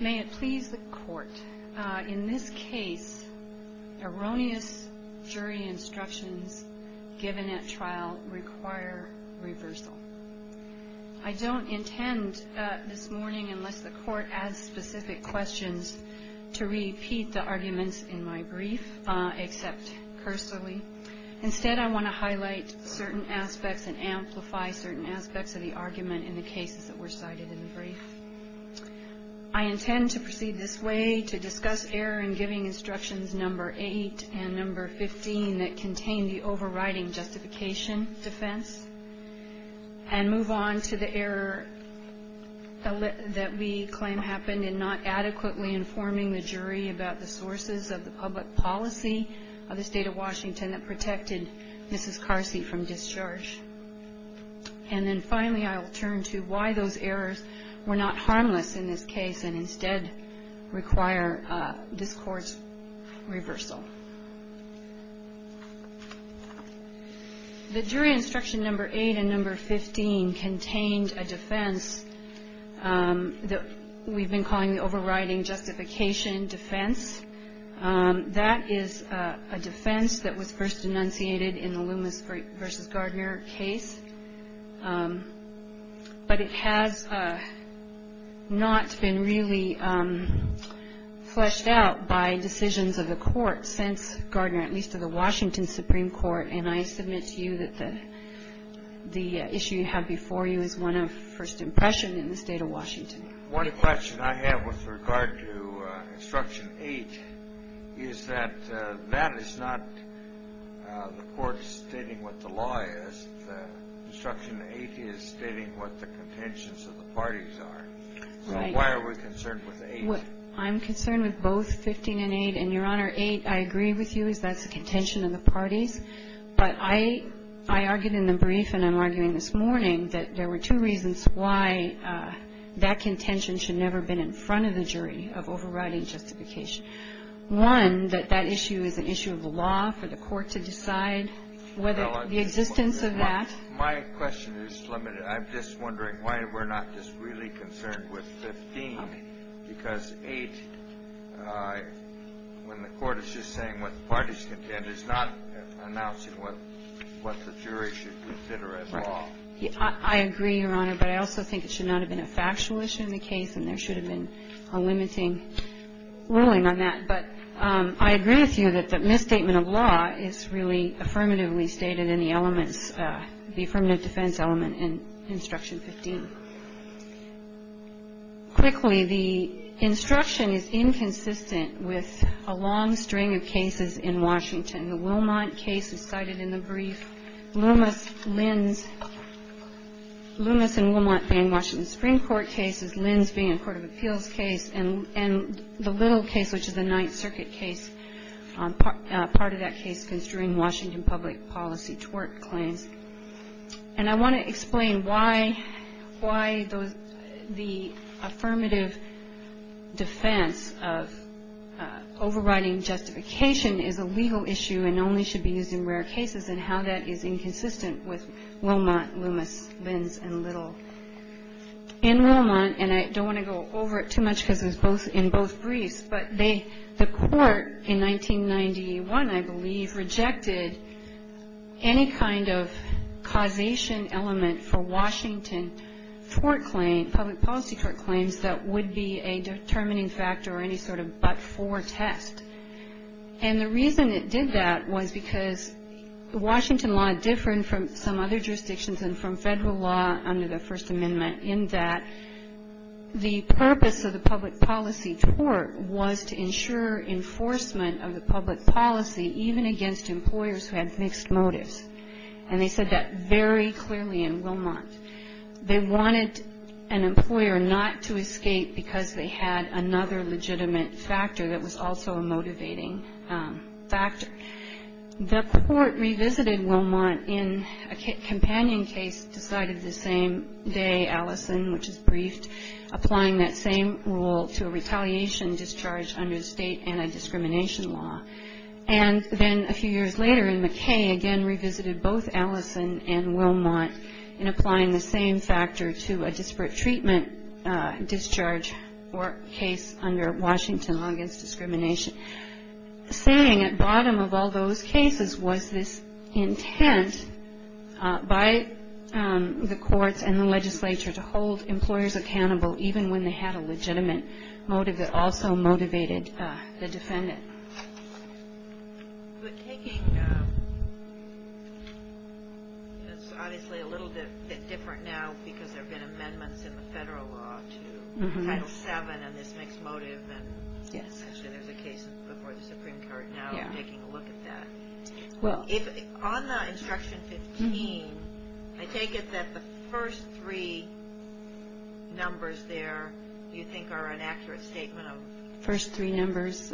May it please the Court, in this case erroneous jury instructions given at trial require reversal. I don't intend this morning, unless the Court adds specific questions, to repeat the arguments in my brief, except cursory. Instead, I want to highlight certain aspects and amplify certain aspects of the argument in the cases that were cited in the brief. I intend to proceed this way, to discuss error in giving instructions number 8 and number 15 that contain the overriding justification defense, and move on to the error that we claim happened in not adequately informing the jury about the sources of the public policy of the State of Washington that protected Mrs. Carsey from discharge. And then finally, I will turn to why those errors were not harmless in this case and instead require this Court's reversal. The jury instruction number 8 and number 15 contained a defense that we've been calling the overriding justification defense. That is a defense that was first enunciated in the Loomis v. Gardner case, but it has not been really fleshed out by decisions of the Court since Gardner, at least of the Washington Supreme Court. And I submit to you that the issue you have before you is one of first impression in the State of Washington. One question I have with regard to instruction 8 is that that is not the Court stating what the law is. Instruction 8 is stating what the contentions of the parties are. So why are we concerned with 8? I'm concerned with both 15 and 8. And, Your Honor, 8, I agree with you, is that's a contention of the parties. But I argued in the brief and I'm arguing this morning that there were two reasons why that contention should never have been in front of the jury of overriding justification. One, that that issue is an issue of the law for the Court to decide whether the existence of that. My question is limited. I'm just wondering why we're not just really concerned with 15 because 8, when the Court is just saying what the parties contend, is not announcing what the jury should consider as law. I agree, Your Honor. But I also think it should not have been a factual issue in the case and there should have been a limiting ruling on that. But I agree with you that the misstatement of law is really affirmatively stated in the elements, the affirmative defense element in Instruction 15. Quickly, the instruction is inconsistent with a long string of cases in Washington. The Wilmont case is cited in the brief. Loomis, Lynn's. Loomis and Wilmont being Washington Supreme Court cases. Lynn's being a court of appeals case. And the little case, which is the Ninth Circuit case, part of that case was during Washington public policy tort claims. And I want to explain why the affirmative defense of overriding justification is a legal issue and only should be used in rare cases and how that is inconsistent with Wilmont, Loomis, Lynn's, and Little. In Wilmont, and I don't want to go over it too much because it was in both briefs, but the court in 1991, I believe, rejected any kind of causation element for Washington tort claim, public policy tort claims that would be a determining factor or any sort of but-for test. And the reason it did that was because Washington law differed from some other jurisdictions and from federal law under the First Amendment in that the purpose of the public policy tort was to ensure enforcement of the public policy even against employers who had mixed motives. And they said that very clearly in Wilmont. They wanted an employer not to escape because they had another legitimate factor that was also a motivating factor. The court revisited Wilmont in a companion case decided the same day, Allison, which is briefed, applying that same rule to a retaliation discharge under state anti-discrimination law. And then a few years later in McKay, again revisited both Allison and Wilmont in applying the same factor to a disparate treatment discharge or case under Washington law against discrimination, saying at bottom of all those cases was this intent by the courts and the legislature to hold employers accountable even when they had a legitimate motive that also motivated the defendant. But taking, it's obviously a little bit different now because there have been amendments in the federal law to Title VII and this mixed motive and actually there's a case before the Supreme Court now taking a look at that. On the Instruction 15, I take it that the first three numbers there you think are an accurate statement of... First three numbers.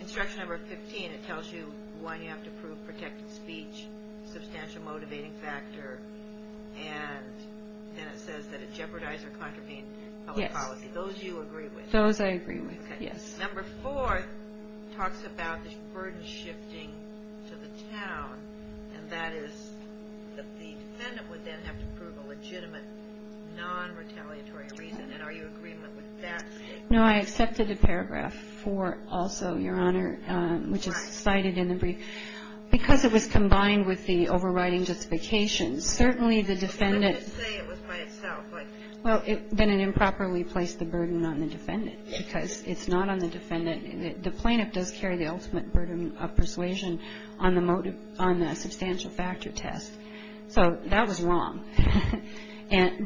Instruction number 15, it tells you why you have to prove protected speech, substantial motivating factor, and then it says that it jeopardized or contravened public policy. Those you agree with? Those I agree with, yes. Number four talks about this burden shifting to the town, and that is that the defendant would then have to prove a legitimate non-retaliatory reason. And are you in agreement with that statement? No, I accepted the paragraph four also, Your Honor, which is cited in the brief. Because it was combined with the overriding justification, certainly the defendant... Let's just say it was by itself. Well, then it improperly placed the burden on the defendant because it's not on the defendant. The plaintiff does carry the ultimate burden of persuasion on the substantial factor test. So that was wrong.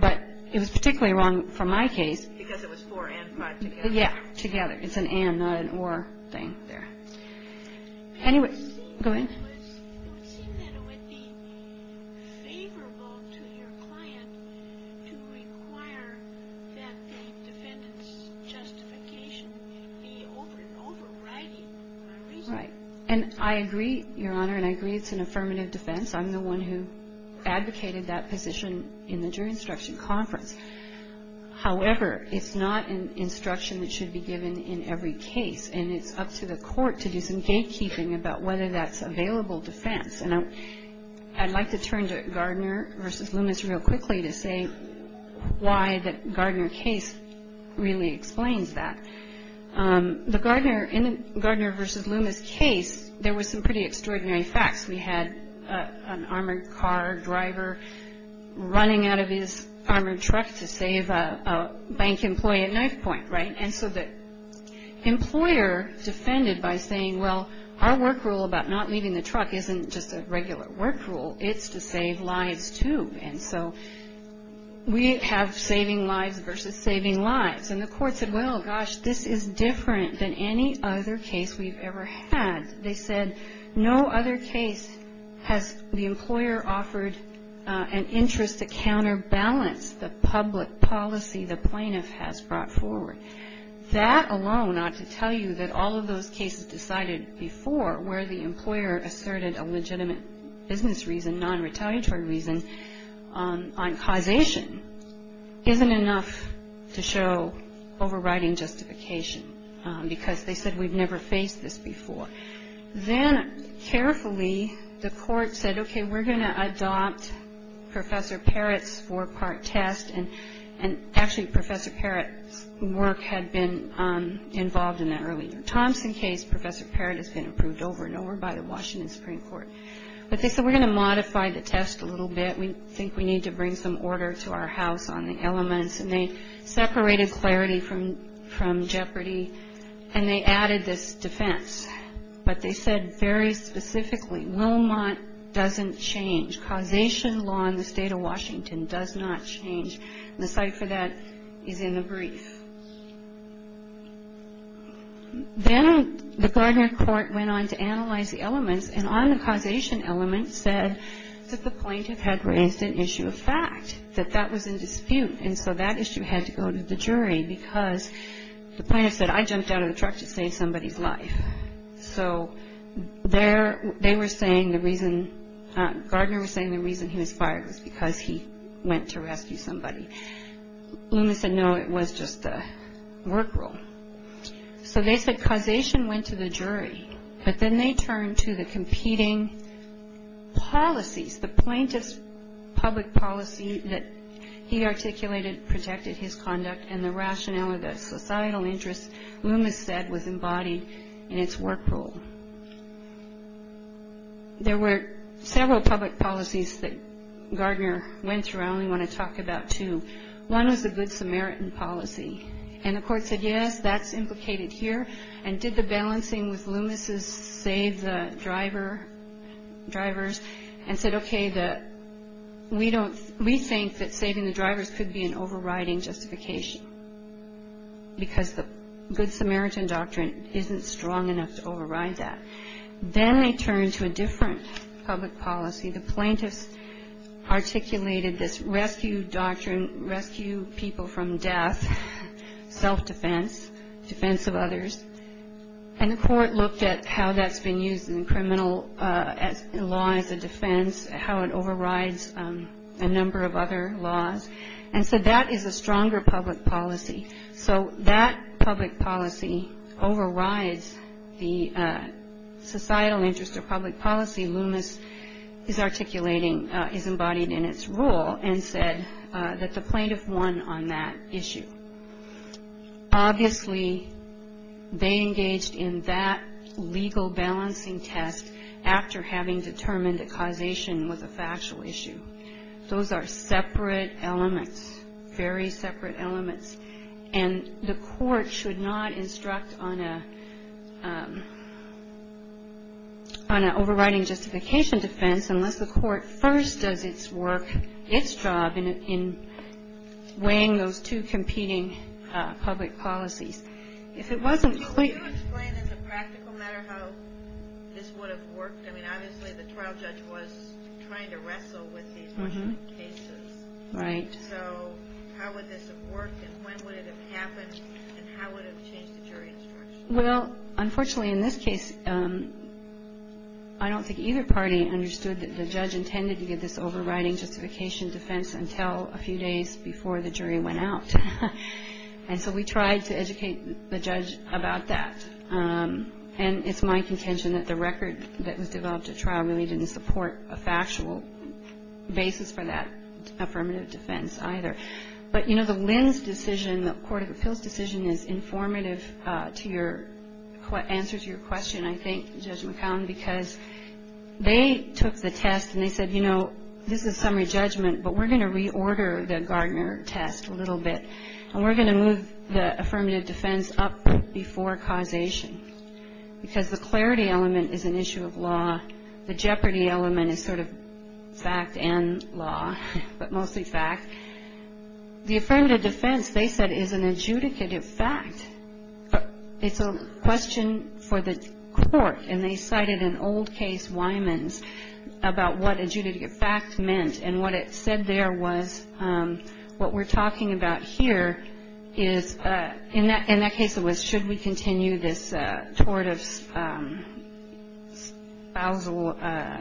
But it was particularly wrong for my case. Because it was four and five together. Yeah, together. It's an and, not an or thing there. Anyway, go ahead. It would seem that it would be favorable to your client to require that the defendant's justification be overriding a reason. Right. And I agree, Your Honor, and I agree it's an affirmative defense. I'm the one who advocated that position in the jury instruction conference. However, it's not an instruction that should be given in every case. And it's up to the court to do some gatekeeping about whether that's available defense. And I'd like to turn to Gardner v. Loomis real quickly to say why the Gardner case really explains that. In the Gardner v. Loomis case, there was some pretty extraordinary facts. We had an armored car driver running out of his armored truck to save a bank employee at knifepoint, right? And so the employer defended by saying, well, our work rule about not leaving the truck isn't just a regular work rule. It's to save lives, too. And so we have saving lives versus saving lives. And the court said, well, gosh, this is different than any other case we've ever had. They said, no other case has the employer offered an interest to counterbalance the public policy the plaintiff has brought forward. That alone ought to tell you that all of those cases decided before, where the employer asserted a legitimate business reason, non-retaliatory reason, on causation, isn't enough to show overriding justification because they said, we've never faced this before. Then, carefully, the court said, okay, we're going to adopt Professor Parrott's four-part test. And actually, Professor Parrott's work had been involved in that earlier. Thompson case, Professor Parrott has been approved over and over by the Washington Supreme Court. But they said, we're going to modify the test a little bit. We think we need to bring some order to our house on the elements. And they separated clarity from jeopardy, and they added this defense. But they said very specifically, Wilmot doesn't change. Causation law in the state of Washington does not change. And the cite for that is in the brief. And on the causation element said that the plaintiff had raised an issue of fact, that that was in dispute. And so that issue had to go to the jury because the plaintiff said, I jumped out of the truck to save somebody's life. So they were saying the reason, Gardner was saying the reason he was fired was because he went to rescue somebody. Loomis said, no, it was just a work rule. So they said causation went to the jury. But then they turned to the competing policies, the plaintiff's public policy that he articulated protected his conduct and the rationale of the societal interest Loomis said was embodied in its work rule. There were several public policies that Gardner went through. I only want to talk about two. One was the Good Samaritan policy. And the court said, yes, that's implicated here. And did the balancing with Loomis' save the drivers and said, okay, we think that saving the drivers could be an overriding justification because the Good Samaritan doctrine isn't strong enough to override that. Then they turned to a different public policy. The plaintiffs articulated this rescue doctrine, rescue people from death, self-defense, defense of others. And the court looked at how that's been used in criminal law as a defense, how it overrides a number of other laws. And so that is a stronger public policy. So that public policy overrides the societal interest of public policy. Loomis is articulating, is embodied in its rule and said that the plaintiff won on that issue. Obviously, they engaged in that legal balancing test after having determined that causation was a factual issue. Those are separate elements, very separate elements. And the court should not instruct on an overriding justification defense unless the court first does its work, its job in weighing those two competing public policies. If it wasn't clear to you. This would have worked. I mean, obviously, the trial judge was trying to wrestle with these cases. Right. So how would this have worked? And when would it have happened? And how would it have changed the jury instruction? Well, unfortunately, in this case, I don't think either party understood that the judge intended to give this overriding justification defense until a few days before the jury went out. And so we tried to educate the judge about that. And it's my contention that the record that was developed at trial really didn't support a factual basis for that affirmative defense either. But, you know, the Lynn's decision, the Court of Appeals decision is informative to your answer to your question, I think, Judge McCown, because they took the test and they said, you know, this is summary judgment, but we're going to reorder the Gardner test a little bit, and we're going to move the affirmative defense up before causation because the clarity element is an issue of law. The jeopardy element is sort of fact and law, but mostly fact. The affirmative defense, they said, is an adjudicative fact. It's a question for the court, and they cited an old case, Wymans, about what adjudicative fact meant. And what it said there was what we're talking about here is, in that case, it was should we continue this tort of spousal,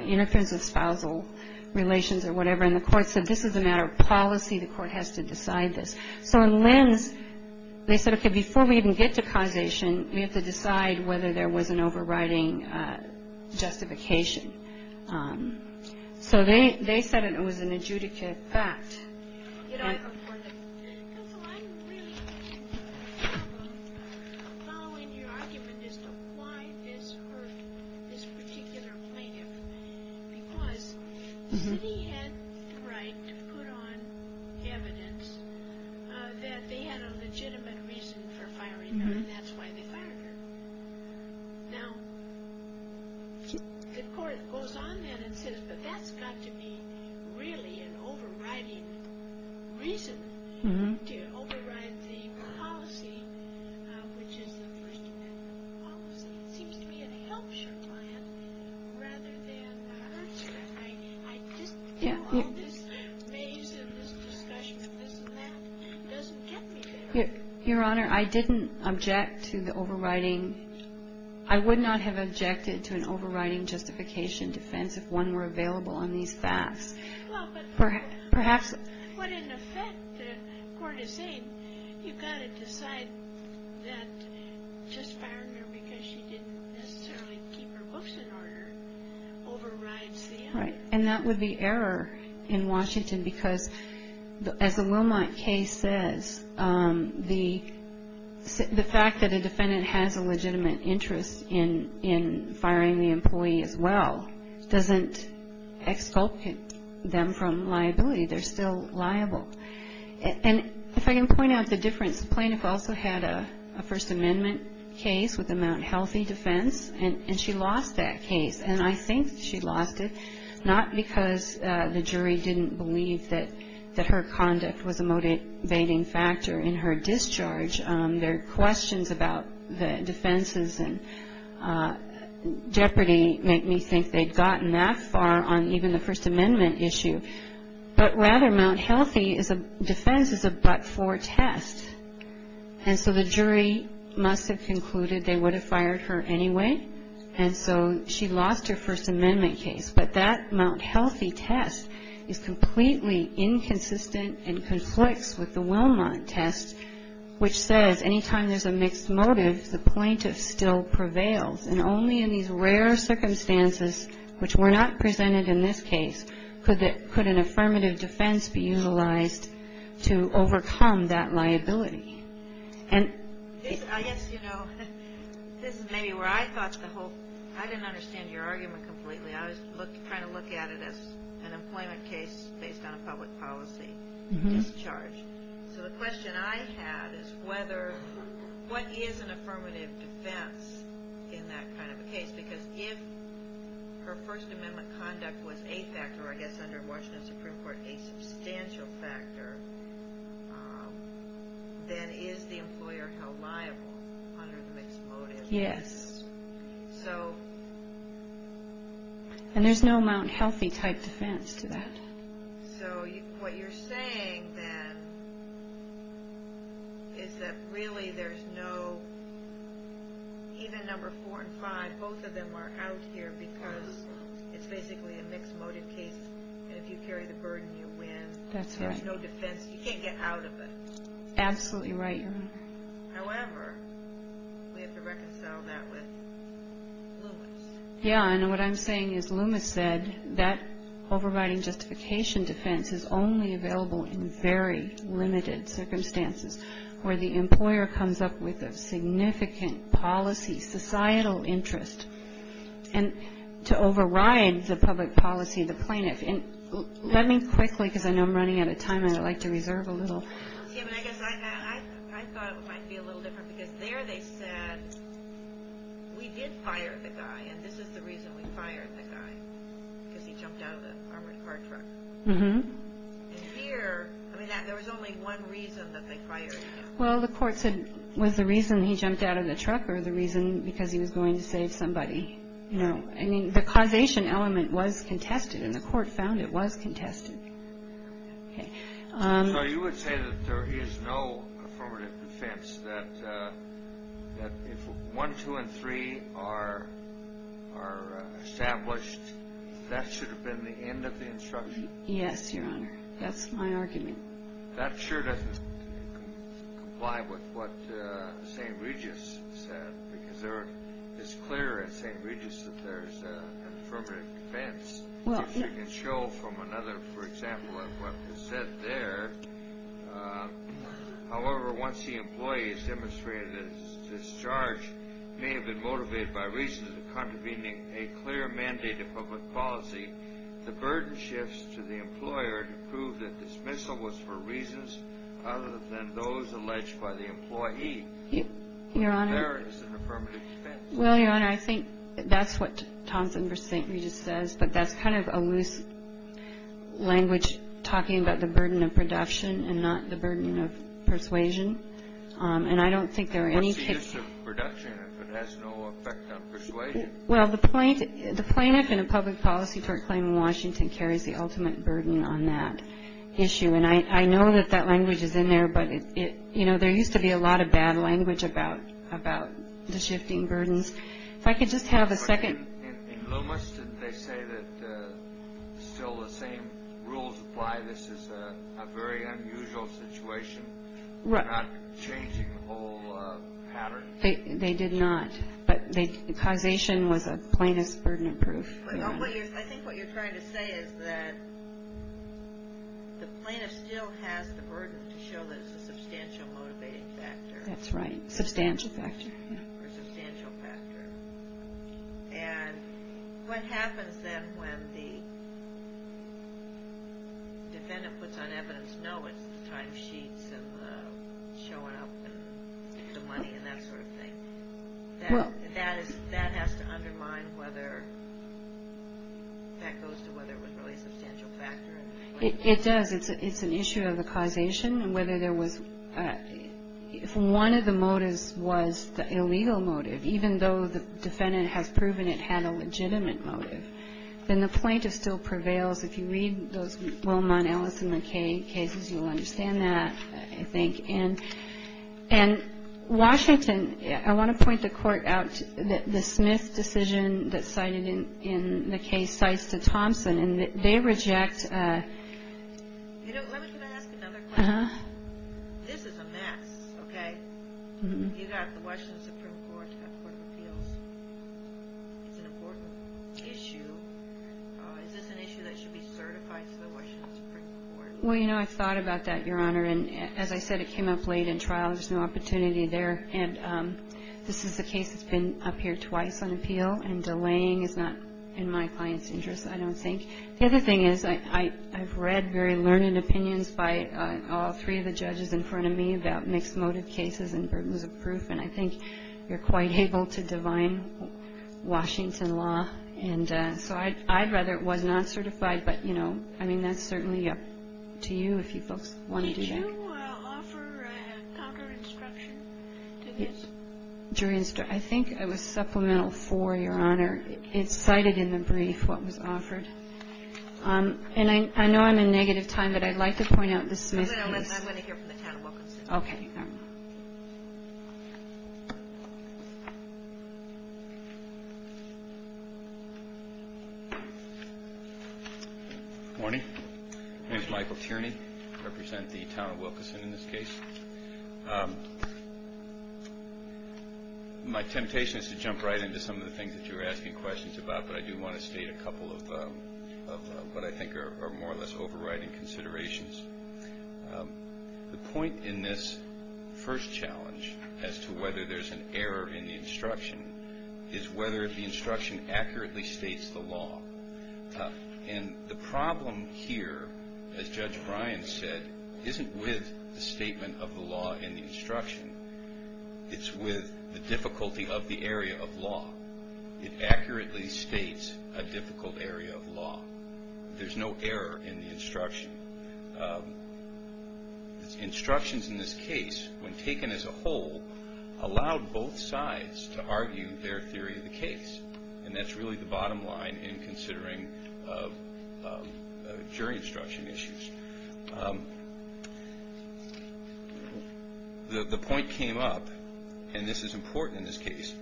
interference of spousal relations or whatever. And the court said this is a matter of policy. The court has to decide this. So in Lynn's, they said, okay, before we even get to causation, we have to decide whether there was an overriding justification. So they said it was an adjudicative fact. Counsel, I'm really following your argument as to why this hurt this particular plaintiff, because the city had the right to put on evidence that they had a legitimate reason for firing her, and that's why they fired her. Now, the court goes on then and says, but that's got to be really an overriding reason to override the policy, which is the first amendment of the policy. It seems to me it helps your client rather than hurts her. I just feel all this maze and this discussion and this and that doesn't get me there. Your Honor, I didn't object to the overriding. I would not have objected to an overriding justification defense if one were available on these facts. Well, but in effect, the court is saying you've got to decide that just firing her because she didn't necessarily keep her books in order overrides the other. All right. And that would be error in Washington because, as the Wilmot case says, the fact that a defendant has a legitimate interest in firing the employee as well doesn't exculpate them from liability. They're still liable. And if I can point out the difference, the plaintiff also had a first amendment case with the Mount Healthy defense, and she lost that case, and I think she lost it, not because the jury didn't believe that her conduct was a motivating factor in her discharge. Their questions about the defenses and jeopardy make me think they'd gotten that far on even the first amendment issue. But rather, Mount Healthy defense is a but-for test. And so the jury must have concluded they would have fired her anyway, and so she lost her first amendment case. But that Mount Healthy test is completely inconsistent and conflicts with the Wilmot test, which says any time there's a mixed motive, the plaintiff still prevails. And only in these rare circumstances, which were not presented in this case, could an affirmative defense be utilized to overcome that liability. And I guess, you know, this is maybe where I thought the whole – I didn't understand your argument completely. I was trying to look at it as an employment case based on a public policy discharge. So the question I had is whether – what is an affirmative defense in that kind of a case? Because if her first amendment conduct was a factor, I guess under Washington's Supreme Court, a substantial factor, then is the employer held liable under the mixed motive? Yes. So – And there's no Mount Healthy type defense to that. So what you're saying then is that really there's no – even number four and five, both of them are out here because it's basically a mixed motive case, and if you carry the burden, you win. That's right. There's no defense. You can't get out of it. Absolutely right, Your Honor. However, we have to reconcile that with Loomis. Yeah, and what I'm saying is Loomis said that overriding justification defense is only available in very limited circumstances, where the employer comes up with a significant policy, societal interest, and to override the public policy of the plaintiff. And let me quickly, because I know I'm running out of time, and I'd like to reserve a little. Yeah, but I guess I thought it might be a little different, because there they said, we did fire the guy, and this is the reason we fired the guy, because he jumped out of the armored car truck. And here, I mean, there was only one reason that they fired him. Well, the court said, was the reason he jumped out of the truck or the reason because he was going to save somebody? No. I mean, the causation element was contested, and the court found it was contested. Okay. So you would say that there is no affirmative defense, that if one, two, and three are established, that should have been the end of the instruction? Yes, Your Honor. That's my argument. That sure doesn't comply with what St. Regis said, because it's clear at St. Regis that there's an affirmative defense. If you can show from another, for example, of what was said there, however, once the employee is demonstrated that his discharge may have been motivated by reasons of contravening a clear mandate of public policy, the burden shifts to the employer to prove that dismissal was for reasons other than those alleged by the employee. There is an affirmative defense. Well, Your Honor, I think that's what Thompson v. St. Regis says, but that's kind of a loose language talking about the burden of production and not the burden of persuasion, and I don't think there are any cases. What's the use of production if it has no effect on persuasion? Well, the plaintiff in a public policy court claim in Washington carries the ultimate burden on that issue, and I know that that language is in there, but, you know, there used to be a lot of bad language about the shifting burdens. If I could just have a second. In Loomis, did they say that still the same rules apply? This is a very unusual situation. They're not changing the whole pattern. They did not, but causation was a plaintiff's burden of proof. I think what you're trying to say is that the plaintiff still has the burden to show that it's a substantial motivating factor. That's right, substantial factor. Or substantial factor. And what happens then when the defendant puts on evidence, no, it's the timesheets and showing up and the money and that sort of thing? That has to undermine whether that goes to whether it was really a substantial factor. It does. It's an issue of the causation and whether there was, if one of the motives was the illegal motive, even though the defendant has proven it had a legitimate motive, then the plaintiff still prevails. If you read those Wilmont, Ellis, and McKay cases, you'll understand that, I think. And Washington, I want to point the court out that the Smith decision that's cited in the case cites to Thompson, and they reject. Let me ask another question. This is a mess, okay? You've got the Washington Supreme Court, you've got the Court of Appeals. It's an important issue. Is this an issue that should be certified to the Washington Supreme Court? Well, you know, I've thought about that, Your Honor, and as I said, it came up late in trial. There's no opportunity there, and this is a case that's been up here twice on appeal, and delaying is not in my client's interest, I don't think. The other thing is I've read very learned opinions by all three of the judges in front of me about mixed motive cases and burdens of proof, and I think you're quite able to divine Washington law. And so I'd rather it was not certified, but, you know, I mean, that's certainly up to you if you folks want to do that. Did you offer counter-instruction to this? I think it was Supplemental 4, Your Honor. It cited in the brief what was offered. And I know I'm in negative time, but I'd like to point out the Smith case. I'm going to hear from the town of Wilkinson. Okay. Good morning. My name is Michael Tierney. I represent the town of Wilkinson in this case. My temptation is to jump right into some of the things that you're asking questions about, but I do want to state a couple of what I think are more or less overriding considerations. The point in this first challenge as to whether there's an error in the instruction is whether the instruction accurately states the law. And the problem here, as Judge Bryan said, isn't with the statement of the law in the instruction. It's with the difficulty of the area of law. It accurately states a difficult area of law. There's no error in the instruction. Instructions in this case, when taken as a whole, allowed both sides to argue their theory of the case. And that's really the bottom line in considering jury instruction issues. The point came up, and this is important in this case,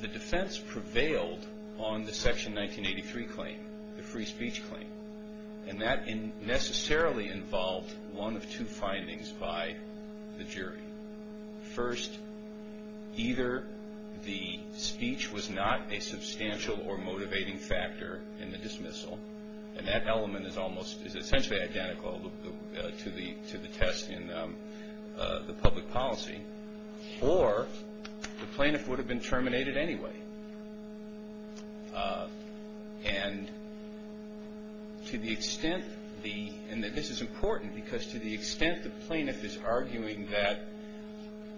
the defense prevailed on the Section 1983 claim, the free speech claim. And that necessarily involved one of two findings by the jury. First, either the speech was not a substantial or motivating factor in the dismissal, and that element is essentially identical to the test in the public policy, or the plaintiff would have been terminated anyway. And to the extent the, and this is important, because to the extent the plaintiff is arguing that,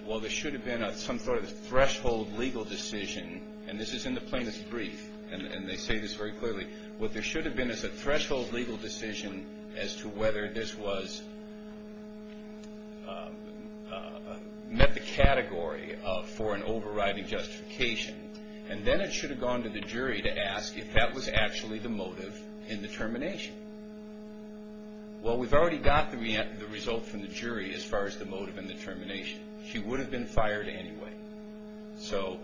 well, there should have been some sort of threshold legal decision, and this is in the plaintiff's brief, and they say this very clearly, what there should have been is a threshold legal decision as to whether this was, met the category for an overriding justification. And then it should have gone to the jury to ask if that was actually the motive in the termination. Well, we've already got the result from the jury as far as the motive in the termination. She would have been fired anyway. So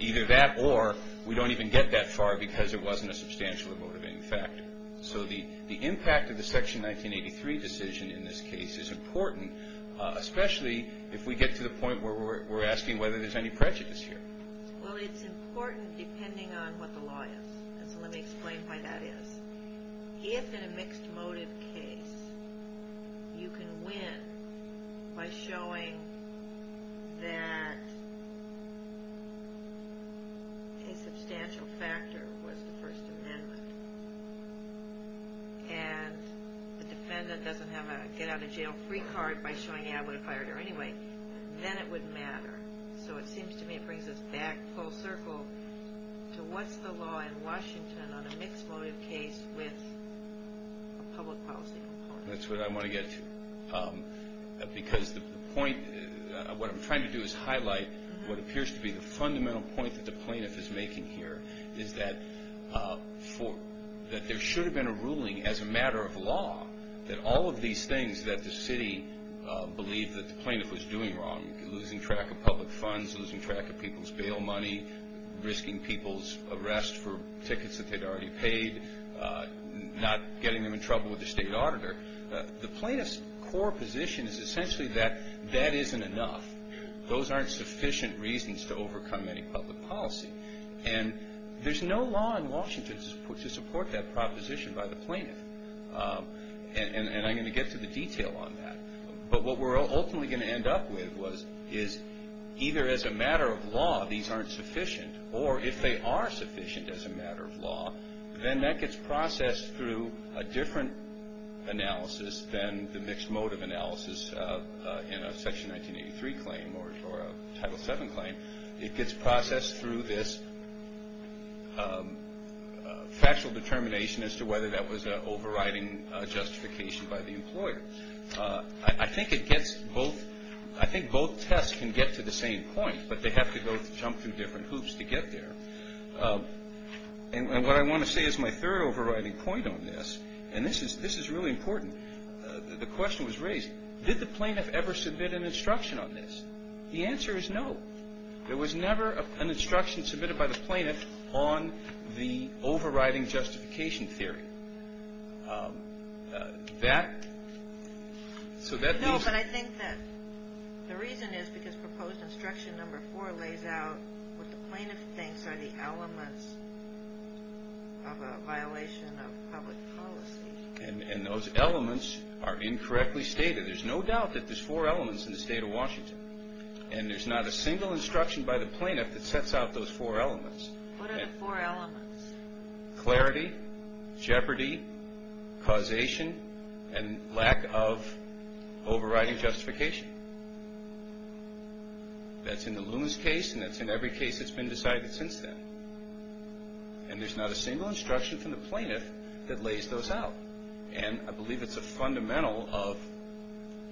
either that or we don't even get that far because it wasn't a substantial or motivating factor. So the impact of the Section 1983 decision in this case is important, especially if we get to the point where we're asking whether there's any prejudice here. Well, it's important depending on what the law is, and so let me explain why that is. If in a mixed motive case you can win by showing that a substantial factor was the First Amendment, and the defendant doesn't have a get-out-of-jail-free card by showing, yeah, I would have fired her anyway, then it would matter. So it seems to me it brings us back full circle to what's the law in Washington on a mixed motive case with a public policy component. That's what I want to get to because the point, what I'm trying to do is highlight what appears to be the fundamental point that the plaintiff is making here, is that there should have been a ruling as a matter of law that all of these things that the city believed that the plaintiff was doing wrong, losing track of public funds, losing track of people's bail money, risking people's arrest for tickets that they'd already paid, not getting them in trouble with the state auditor. The plaintiff's core position is essentially that that isn't enough. Those aren't sufficient reasons to overcome any public policy. And there's no law in Washington to support that proposition by the plaintiff. And I'm going to get to the detail on that. But what we're ultimately going to end up with is either as a matter of law these aren't sufficient, or if they are sufficient as a matter of law, then that gets processed through a different analysis than the mixed motive analysis in a Section 1983 claim or a Title VII claim. It gets processed through this factual determination as to whether that was an overriding justification by the employer. I think both tests can get to the same point, but they have to both jump through different hoops to get there. And what I want to say is my third overriding point on this, and this is really important, the question was raised, did the plaintiff ever submit an instruction on this? The answer is no. There was never an instruction submitted by the plaintiff on the overriding justification theory. So that means... No, but I think that the reason is because proposed instruction number four lays out what the plaintiff thinks are the elements of a violation of public policy. And those elements are incorrectly stated. There's no doubt that there's four elements in the state of Washington, and there's not a single instruction by the plaintiff that sets out those four elements. What are the four elements? Clarity, jeopardy, causation, and lack of overriding justification. That's in the Loomis case, and that's in every case that's been decided since then. And there's not a single instruction from the plaintiff that lays those out. And I believe it's a fundamental of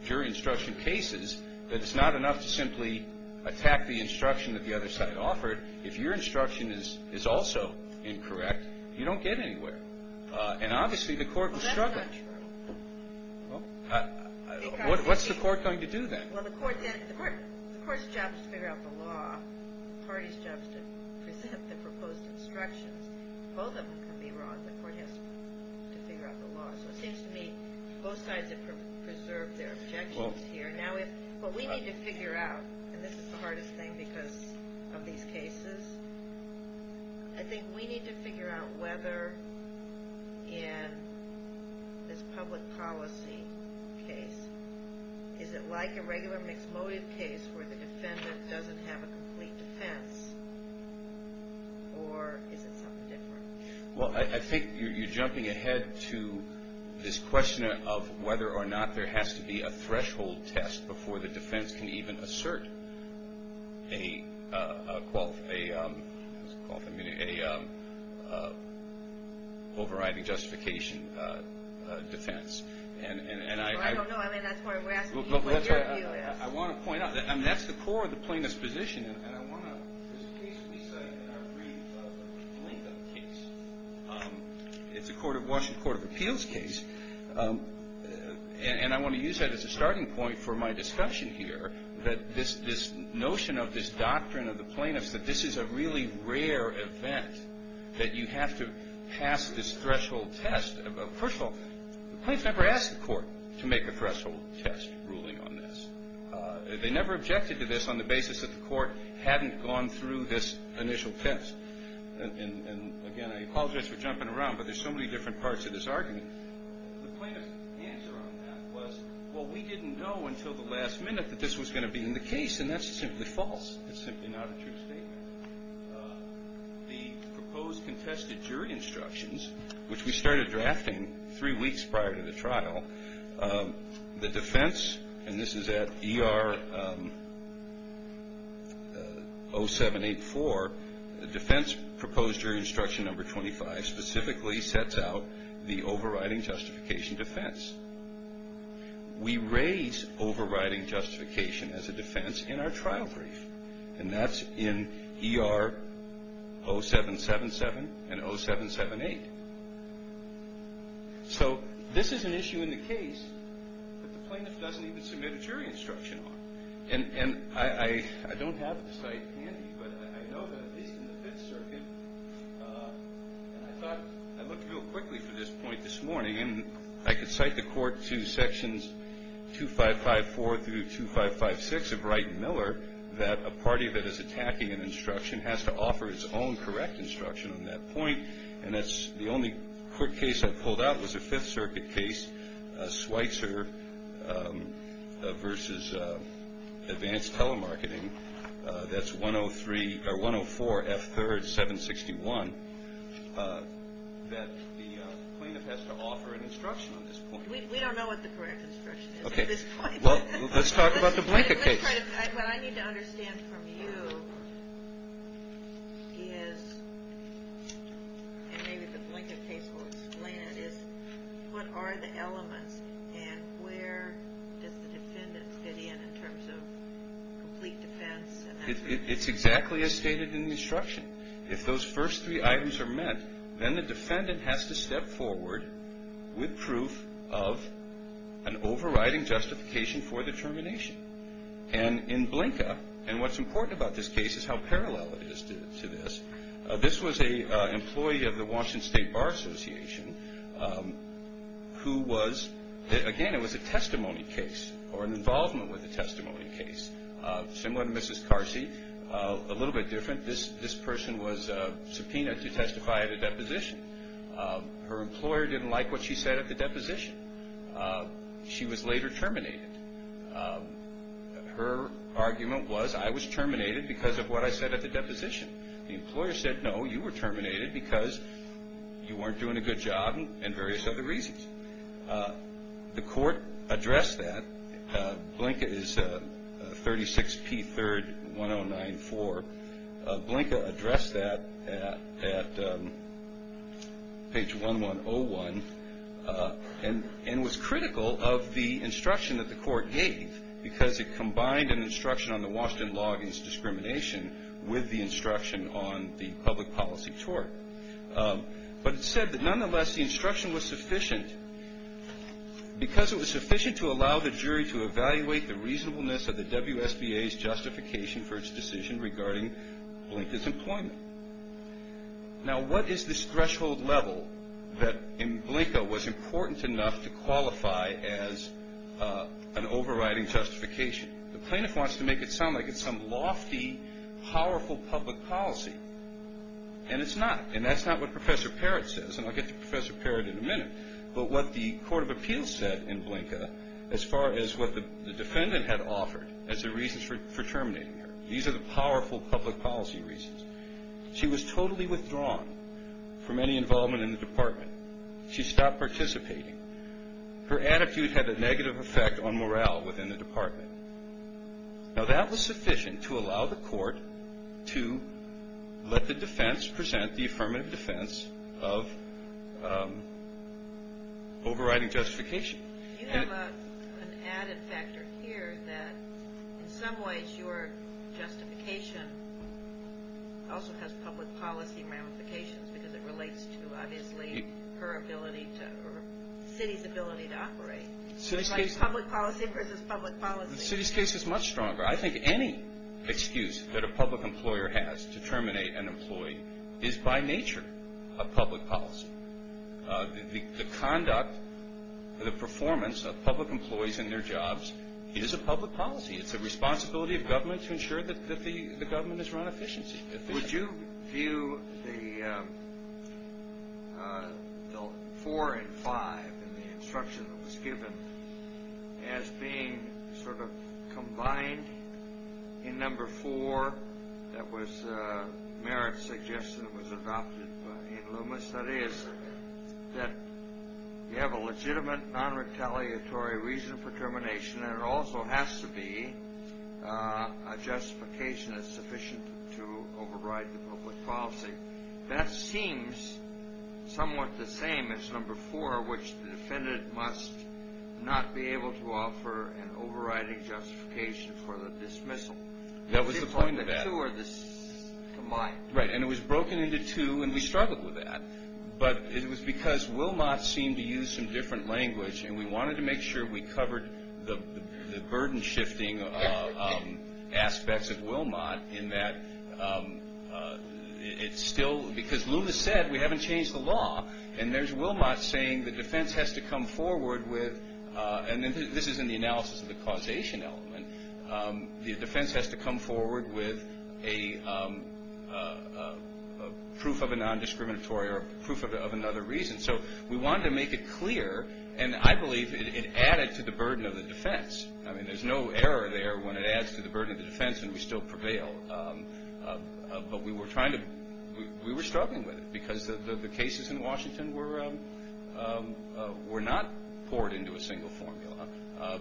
jury instruction cases that it's not enough to simply attack the instruction that the other side offered. If your instruction is also incorrect, you don't get anywhere. And obviously the court will struggle. Well, that's not true. What's the court going to do then? Well, the court's job is to figure out the law. The party's job is to present the proposed instructions. Both of them can be wrong. The court has to figure out the law. So it seems to me both sides have preserved their objections here. But we need to figure out, and this is the hardest thing because of these cases, I think we need to figure out whether in this public policy case, is it like a regular mixed motive case where the defendant doesn't have a complete defense or is it something different? Well, I think you're jumping ahead to this question of whether or not there has to be a threshold test before the defense can even assert a overriding justification defense. Well, I don't know. I mean, that's why we're asking you what your view is. I want to point out, I mean, that's the core of the plaintiff's position. And I want to, this case we cite in our brief link-up case. It's a Washington Court of Appeals case. And I want to use that as a starting point for my discussion here, that this notion of this doctrine of the plaintiff's, that this is a really rare event, that you have to pass this threshold test. First of all, the plaintiff never asked the court to make a threshold test ruling on this. They never objected to this on the basis that the court hadn't gone through this initial test. And, again, I apologize for jumping around, but there's so many different parts to this argument. The plaintiff's answer on that was, well, we didn't know until the last minute that this was going to be in the case, and that's simply false. It's simply not a true statement. The proposed contested jury instructions, which we started drafting three weeks prior to the trial, the defense, and this is at ER 0784, the defense proposed jury instruction number 25, specifically sets out the overriding justification defense. We raise overriding justification as a defense in our trial brief, and that's in ER 0777 and 0778. So this is an issue in the case that the plaintiff doesn't even submit a jury instruction on. And I don't have the site handy, but I know that it is in the Fifth Circuit, and I thought I'd look real quickly for this point this morning, and I could cite the court to sections 2554 through 2556 of Wright and Miller, that a party that is attacking an instruction has to offer its own correct instruction on that point, and that's the only court case I pulled out was a Fifth Circuit case, Schweitzer v. Advanced Telemarketing, that's 104F3rd761, that the plaintiff has to offer an instruction on this point. We don't know what the correct instruction is at this point. Well, let's talk about the blanket case. What I need to understand from you is, and maybe the blanket case will explain it, is what are the elements, and where does the defendant fit in in terms of complete defense? It's exactly as stated in the instruction. If those first three items are met, then the defendant has to step forward with proof of an overriding justification for the termination. And in Blinka, and what's important about this case is how parallel it is to this, this was an employee of the Washington State Bar Association who was, again, it was a testimony case or an involvement with a testimony case, similar to Mrs. Carsey, a little bit different. This person was subpoenaed to testify at a deposition. Her employer didn't like what she said at the deposition. She was later terminated. Her argument was, I was terminated because of what I said at the deposition. The employer said, no, you were terminated because you weren't doing a good job and various other reasons. The court addressed that. Blinka is 36P3-1094. Blinka addressed that at page 1101 and was critical of the instruction that the court gave because it combined an instruction on the Washington law against discrimination with the instruction on the public policy tort. But it said that, nonetheless, the instruction was sufficient. Because it was sufficient to allow the jury to evaluate the reasonableness of the WSBA's justification for its decision regarding Blinka's employment. Now, what is this threshold level that in Blinka was important enough to qualify as an overriding justification? The plaintiff wants to make it sound like it's some lofty, powerful public policy, and it's not. And that's not what Professor Parrott says, and I'll get to Professor Parrott in a minute. But what the court of appeals said in Blinka, as far as what the defendant had offered as the reasons for terminating her, these are the powerful public policy reasons. She was totally withdrawn from any involvement in the department. She stopped participating. Her attitude had a negative effect on morale within the department. Now, that was sufficient to allow the court to let the defense present the affirmative defense of overriding justification. You have an added factor here that, in some ways, your justification also has public policy ramifications because it relates to, obviously, her ability to or the city's ability to operate. It's like public policy versus public policy. The city's case is much stronger. I think any excuse that a public employer has to terminate an employee is, by nature, a public policy. The conduct, the performance of public employees in their jobs is a public policy. It's a responsibility of government to ensure that the government is run efficiently. Would you view the four and five in the instruction that was given as being sort of combined in number four? That was Merritt's suggestion that was adopted in Loomis. That is that you have a legitimate, non-retaliatory reason for termination, and it also has to be a justification that's sufficient to override the public policy. That seems somewhat the same as number four, which the defendant must not be able to offer an overriding justification for the dismissal. That was the point of that. The two are combined. Right, and it was broken into two, and we struggled with that. But it was because Wilmot seemed to use some different language, and we wanted to make sure we covered the burden-shifting aspects of Wilmot in that it's still, because Loomis said we haven't changed the law, and there's Wilmot saying the defense has to come forward with, and this is in the analysis of the causation element, the defense has to come forward with a proof of a non-discriminatory or a proof of another reason. So we wanted to make it clear, and I believe it added to the burden of the defense. I mean, there's no error there when it adds to the burden of the defense and we still prevail. But we were struggling with it because the cases in Washington were not poured into a single formula,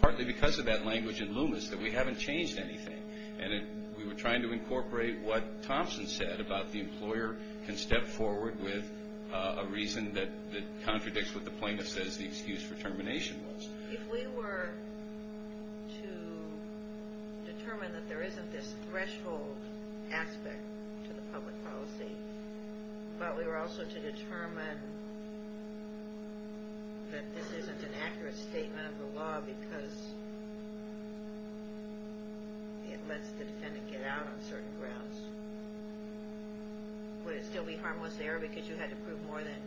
partly because of that language in Loomis that we haven't changed anything, and we were trying to incorporate what Thompson said about the employer can step forward with a reason that contradicts what the plaintiff says the excuse for termination was. If we were to determine that there isn't this threshold aspect to the public policy, but we were also to determine that this isn't an accurate statement of the law because it lets the defendant get out on certain grounds, would it still be harmless there because you had to prove more than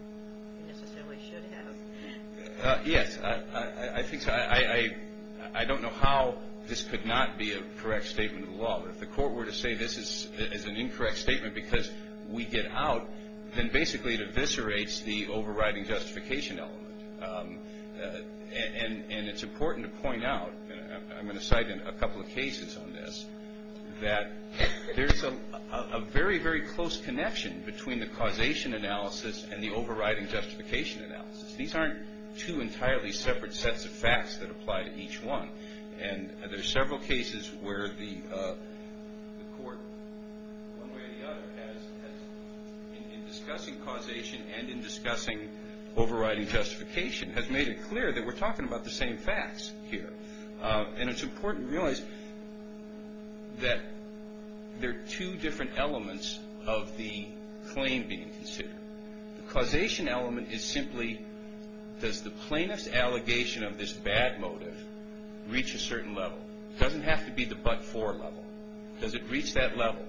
you necessarily should have? Yes, I think so. I don't know how this could not be a correct statement of the law. If the court were to say this is an incorrect statement because we get out, then basically it eviscerates the overriding justification element. And it's important to point out, and I'm going to cite a couple of cases on this, that there's a very, very close connection between the causation analysis and the overriding justification analysis. These aren't two entirely separate sets of facts that apply to each one. And there are several cases where the court, one way or the other, in discussing causation and in discussing overriding justification, has made it clear that we're talking about the same facts here. And it's important to realize that there are two different elements of the claim being considered. The causation element is simply does the plaintiff's allegation of this bad motive reach a certain level? It doesn't have to be the but-for level. Does it reach that level?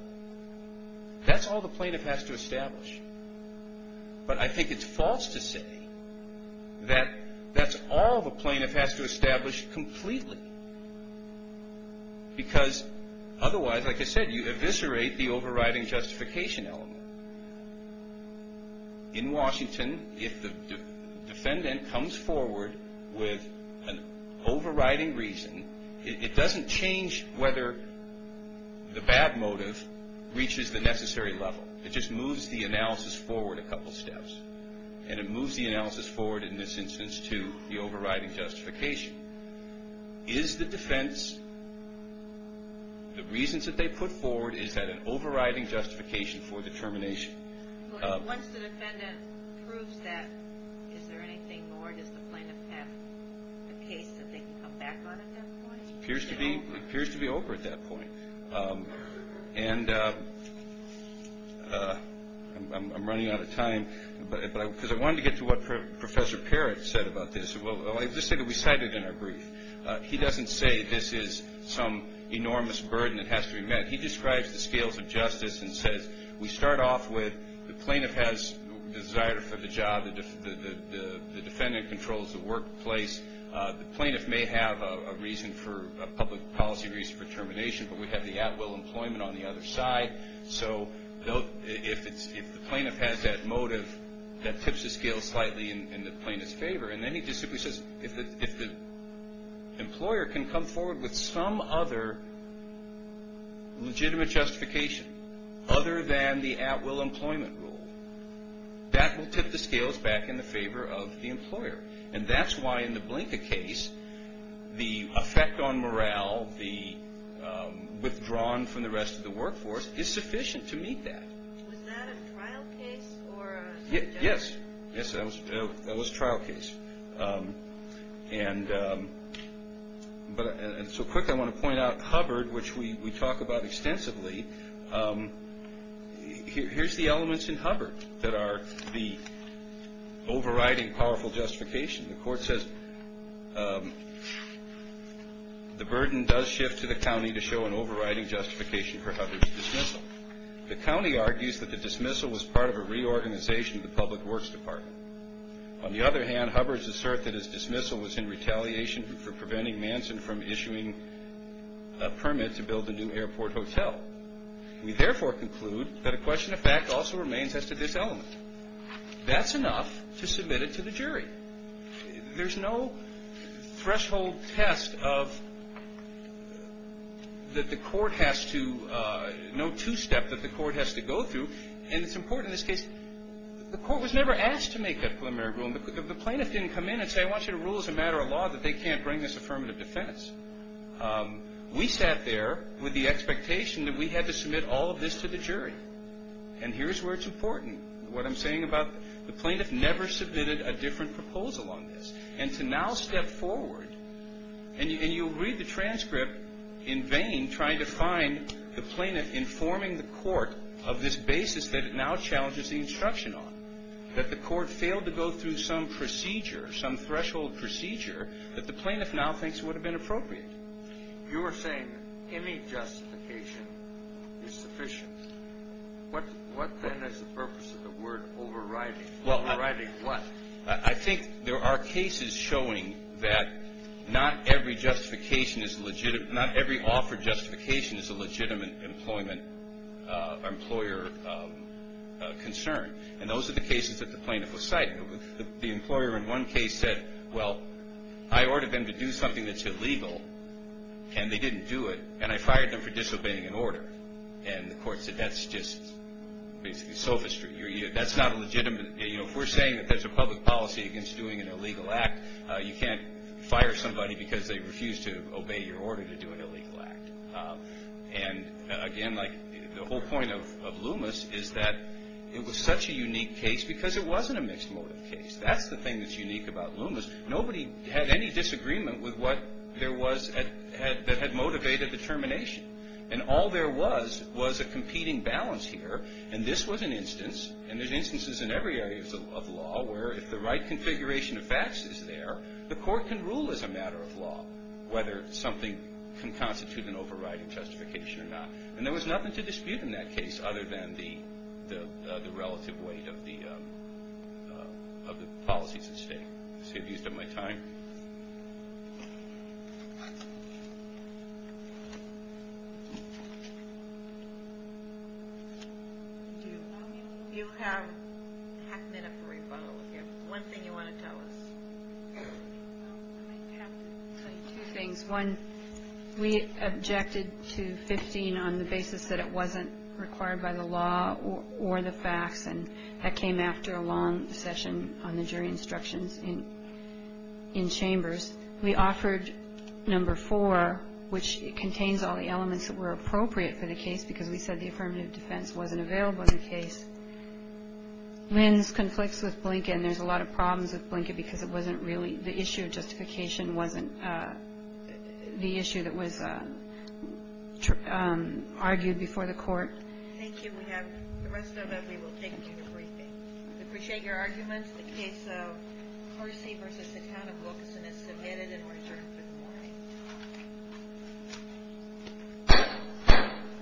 That's all the plaintiff has to establish. But I think it's false to say that that's all the plaintiff has to establish completely because otherwise, like I said, you eviscerate the overriding justification element. In Washington, if the defendant comes forward with an overriding reason, it doesn't change whether the bad motive reaches the necessary level. It just moves the analysis forward a couple steps. And it moves the analysis forward, in this instance, to the overriding justification. Is the defense, the reasons that they put forward, is that an overriding justification for the termination? Once the defendant proves that, is there anything more? Does the plaintiff have the case that they can come back on at that point? It appears to be over at that point. And I'm running out of time because I wanted to get to what Professor Parrott said about this. Well, I'll just say that we cite it in our brief. He doesn't say this is some enormous burden that has to be met. He describes the scales of justice and says we start off with the plaintiff has desire for the job. The defendant controls the workplace. The plaintiff may have a reason for a public policy reason for termination, but we have the at-will employment on the other side. So if the plaintiff has that motive, that tips the scale slightly in the plaintiff's favor. And then he just simply says if the employer can come forward with some other legitimate justification other than the at-will employment rule, that will tip the scales back in the favor of the employer. And that's why in the Blinka case, the effect on morale, the withdrawn from the rest of the workforce, is sufficient to meet that. Was that a trial case? Yes. Yes, that was a trial case. And so quick, I want to point out Hubbard, which we talk about extensively. Here's the elements in Hubbard that are the overriding powerful justification. The court says the burden does shift to the county to show an overriding justification for Hubbard's dismissal. The county argues that the dismissal was part of a reorganization of the Public Works Department. On the other hand, Hubbard's assert that his dismissal was in retaliation for preventing Manson from issuing a permit to build a new airport hotel. We therefore conclude that a question of fact also remains as to this element. There's no threshold test that the court has to, no two-step that the court has to go through. And it's important in this case, the court was never asked to make that preliminary rule. The plaintiff didn't come in and say, I want you to rule as a matter of law that they can't bring this affirmative defense. We sat there with the expectation that we had to submit all of this to the jury. And here's where it's important. What I'm saying about the plaintiff never submitted a different proposal on this. And to now step forward, and you'll read the transcript in vain trying to find the plaintiff informing the court of this basis that it now challenges the instruction on. That the court failed to go through some procedure, some threshold procedure, that the plaintiff now thinks would have been appropriate. You were saying any justification is sufficient. What then is the purpose of the word overriding? Overriding what? I think there are cases showing that not every justification is legitimate, not every offered justification is a legitimate employer concern. And those are the cases that the plaintiff was citing. The employer in one case said, well, I ordered them to do something that's illegal, and they didn't do it, and I fired them for disobeying an order. And the court said that's just basically sophistry. That's not legitimate. If we're saying that there's a public policy against doing an illegal act, you can't fire somebody because they refuse to obey your order to do an illegal act. And, again, like the whole point of Loomis is that it was such a unique case because it wasn't a mixed motive case. That's the thing that's unique about Loomis. Nobody had any disagreement with what there was that had motivated the termination. And all there was was a competing balance here, and this was an instance, and there's instances in every area of law where if the right configuration of facts is there, the court can rule as a matter of law whether something can constitute an overriding justification or not. And there was nothing to dispute in that case other than the relative weight of the policies at stake. Excuse my time. Do you have half a minute for rebuttal if you have one thing you want to tell us? I have to say two things. One, we objected to 15 on the basis that it wasn't required by the law or the facts, and that came after a long session on the jury instructions in chambers. We offered number four, which contains all the elements that were appropriate for the case because we said the affirmative defense wasn't available in the case. Lynn's conflicts with Blinken. There's a lot of problems with Blinken because it wasn't really the issue of justification wasn't the issue that was argued before the Court. Thank you. If we have the rest of it, we will take it to the briefing. We appreciate your arguments. The case of Percy v. the Town of Wilkinson is submitted and we're adjourned for the morning.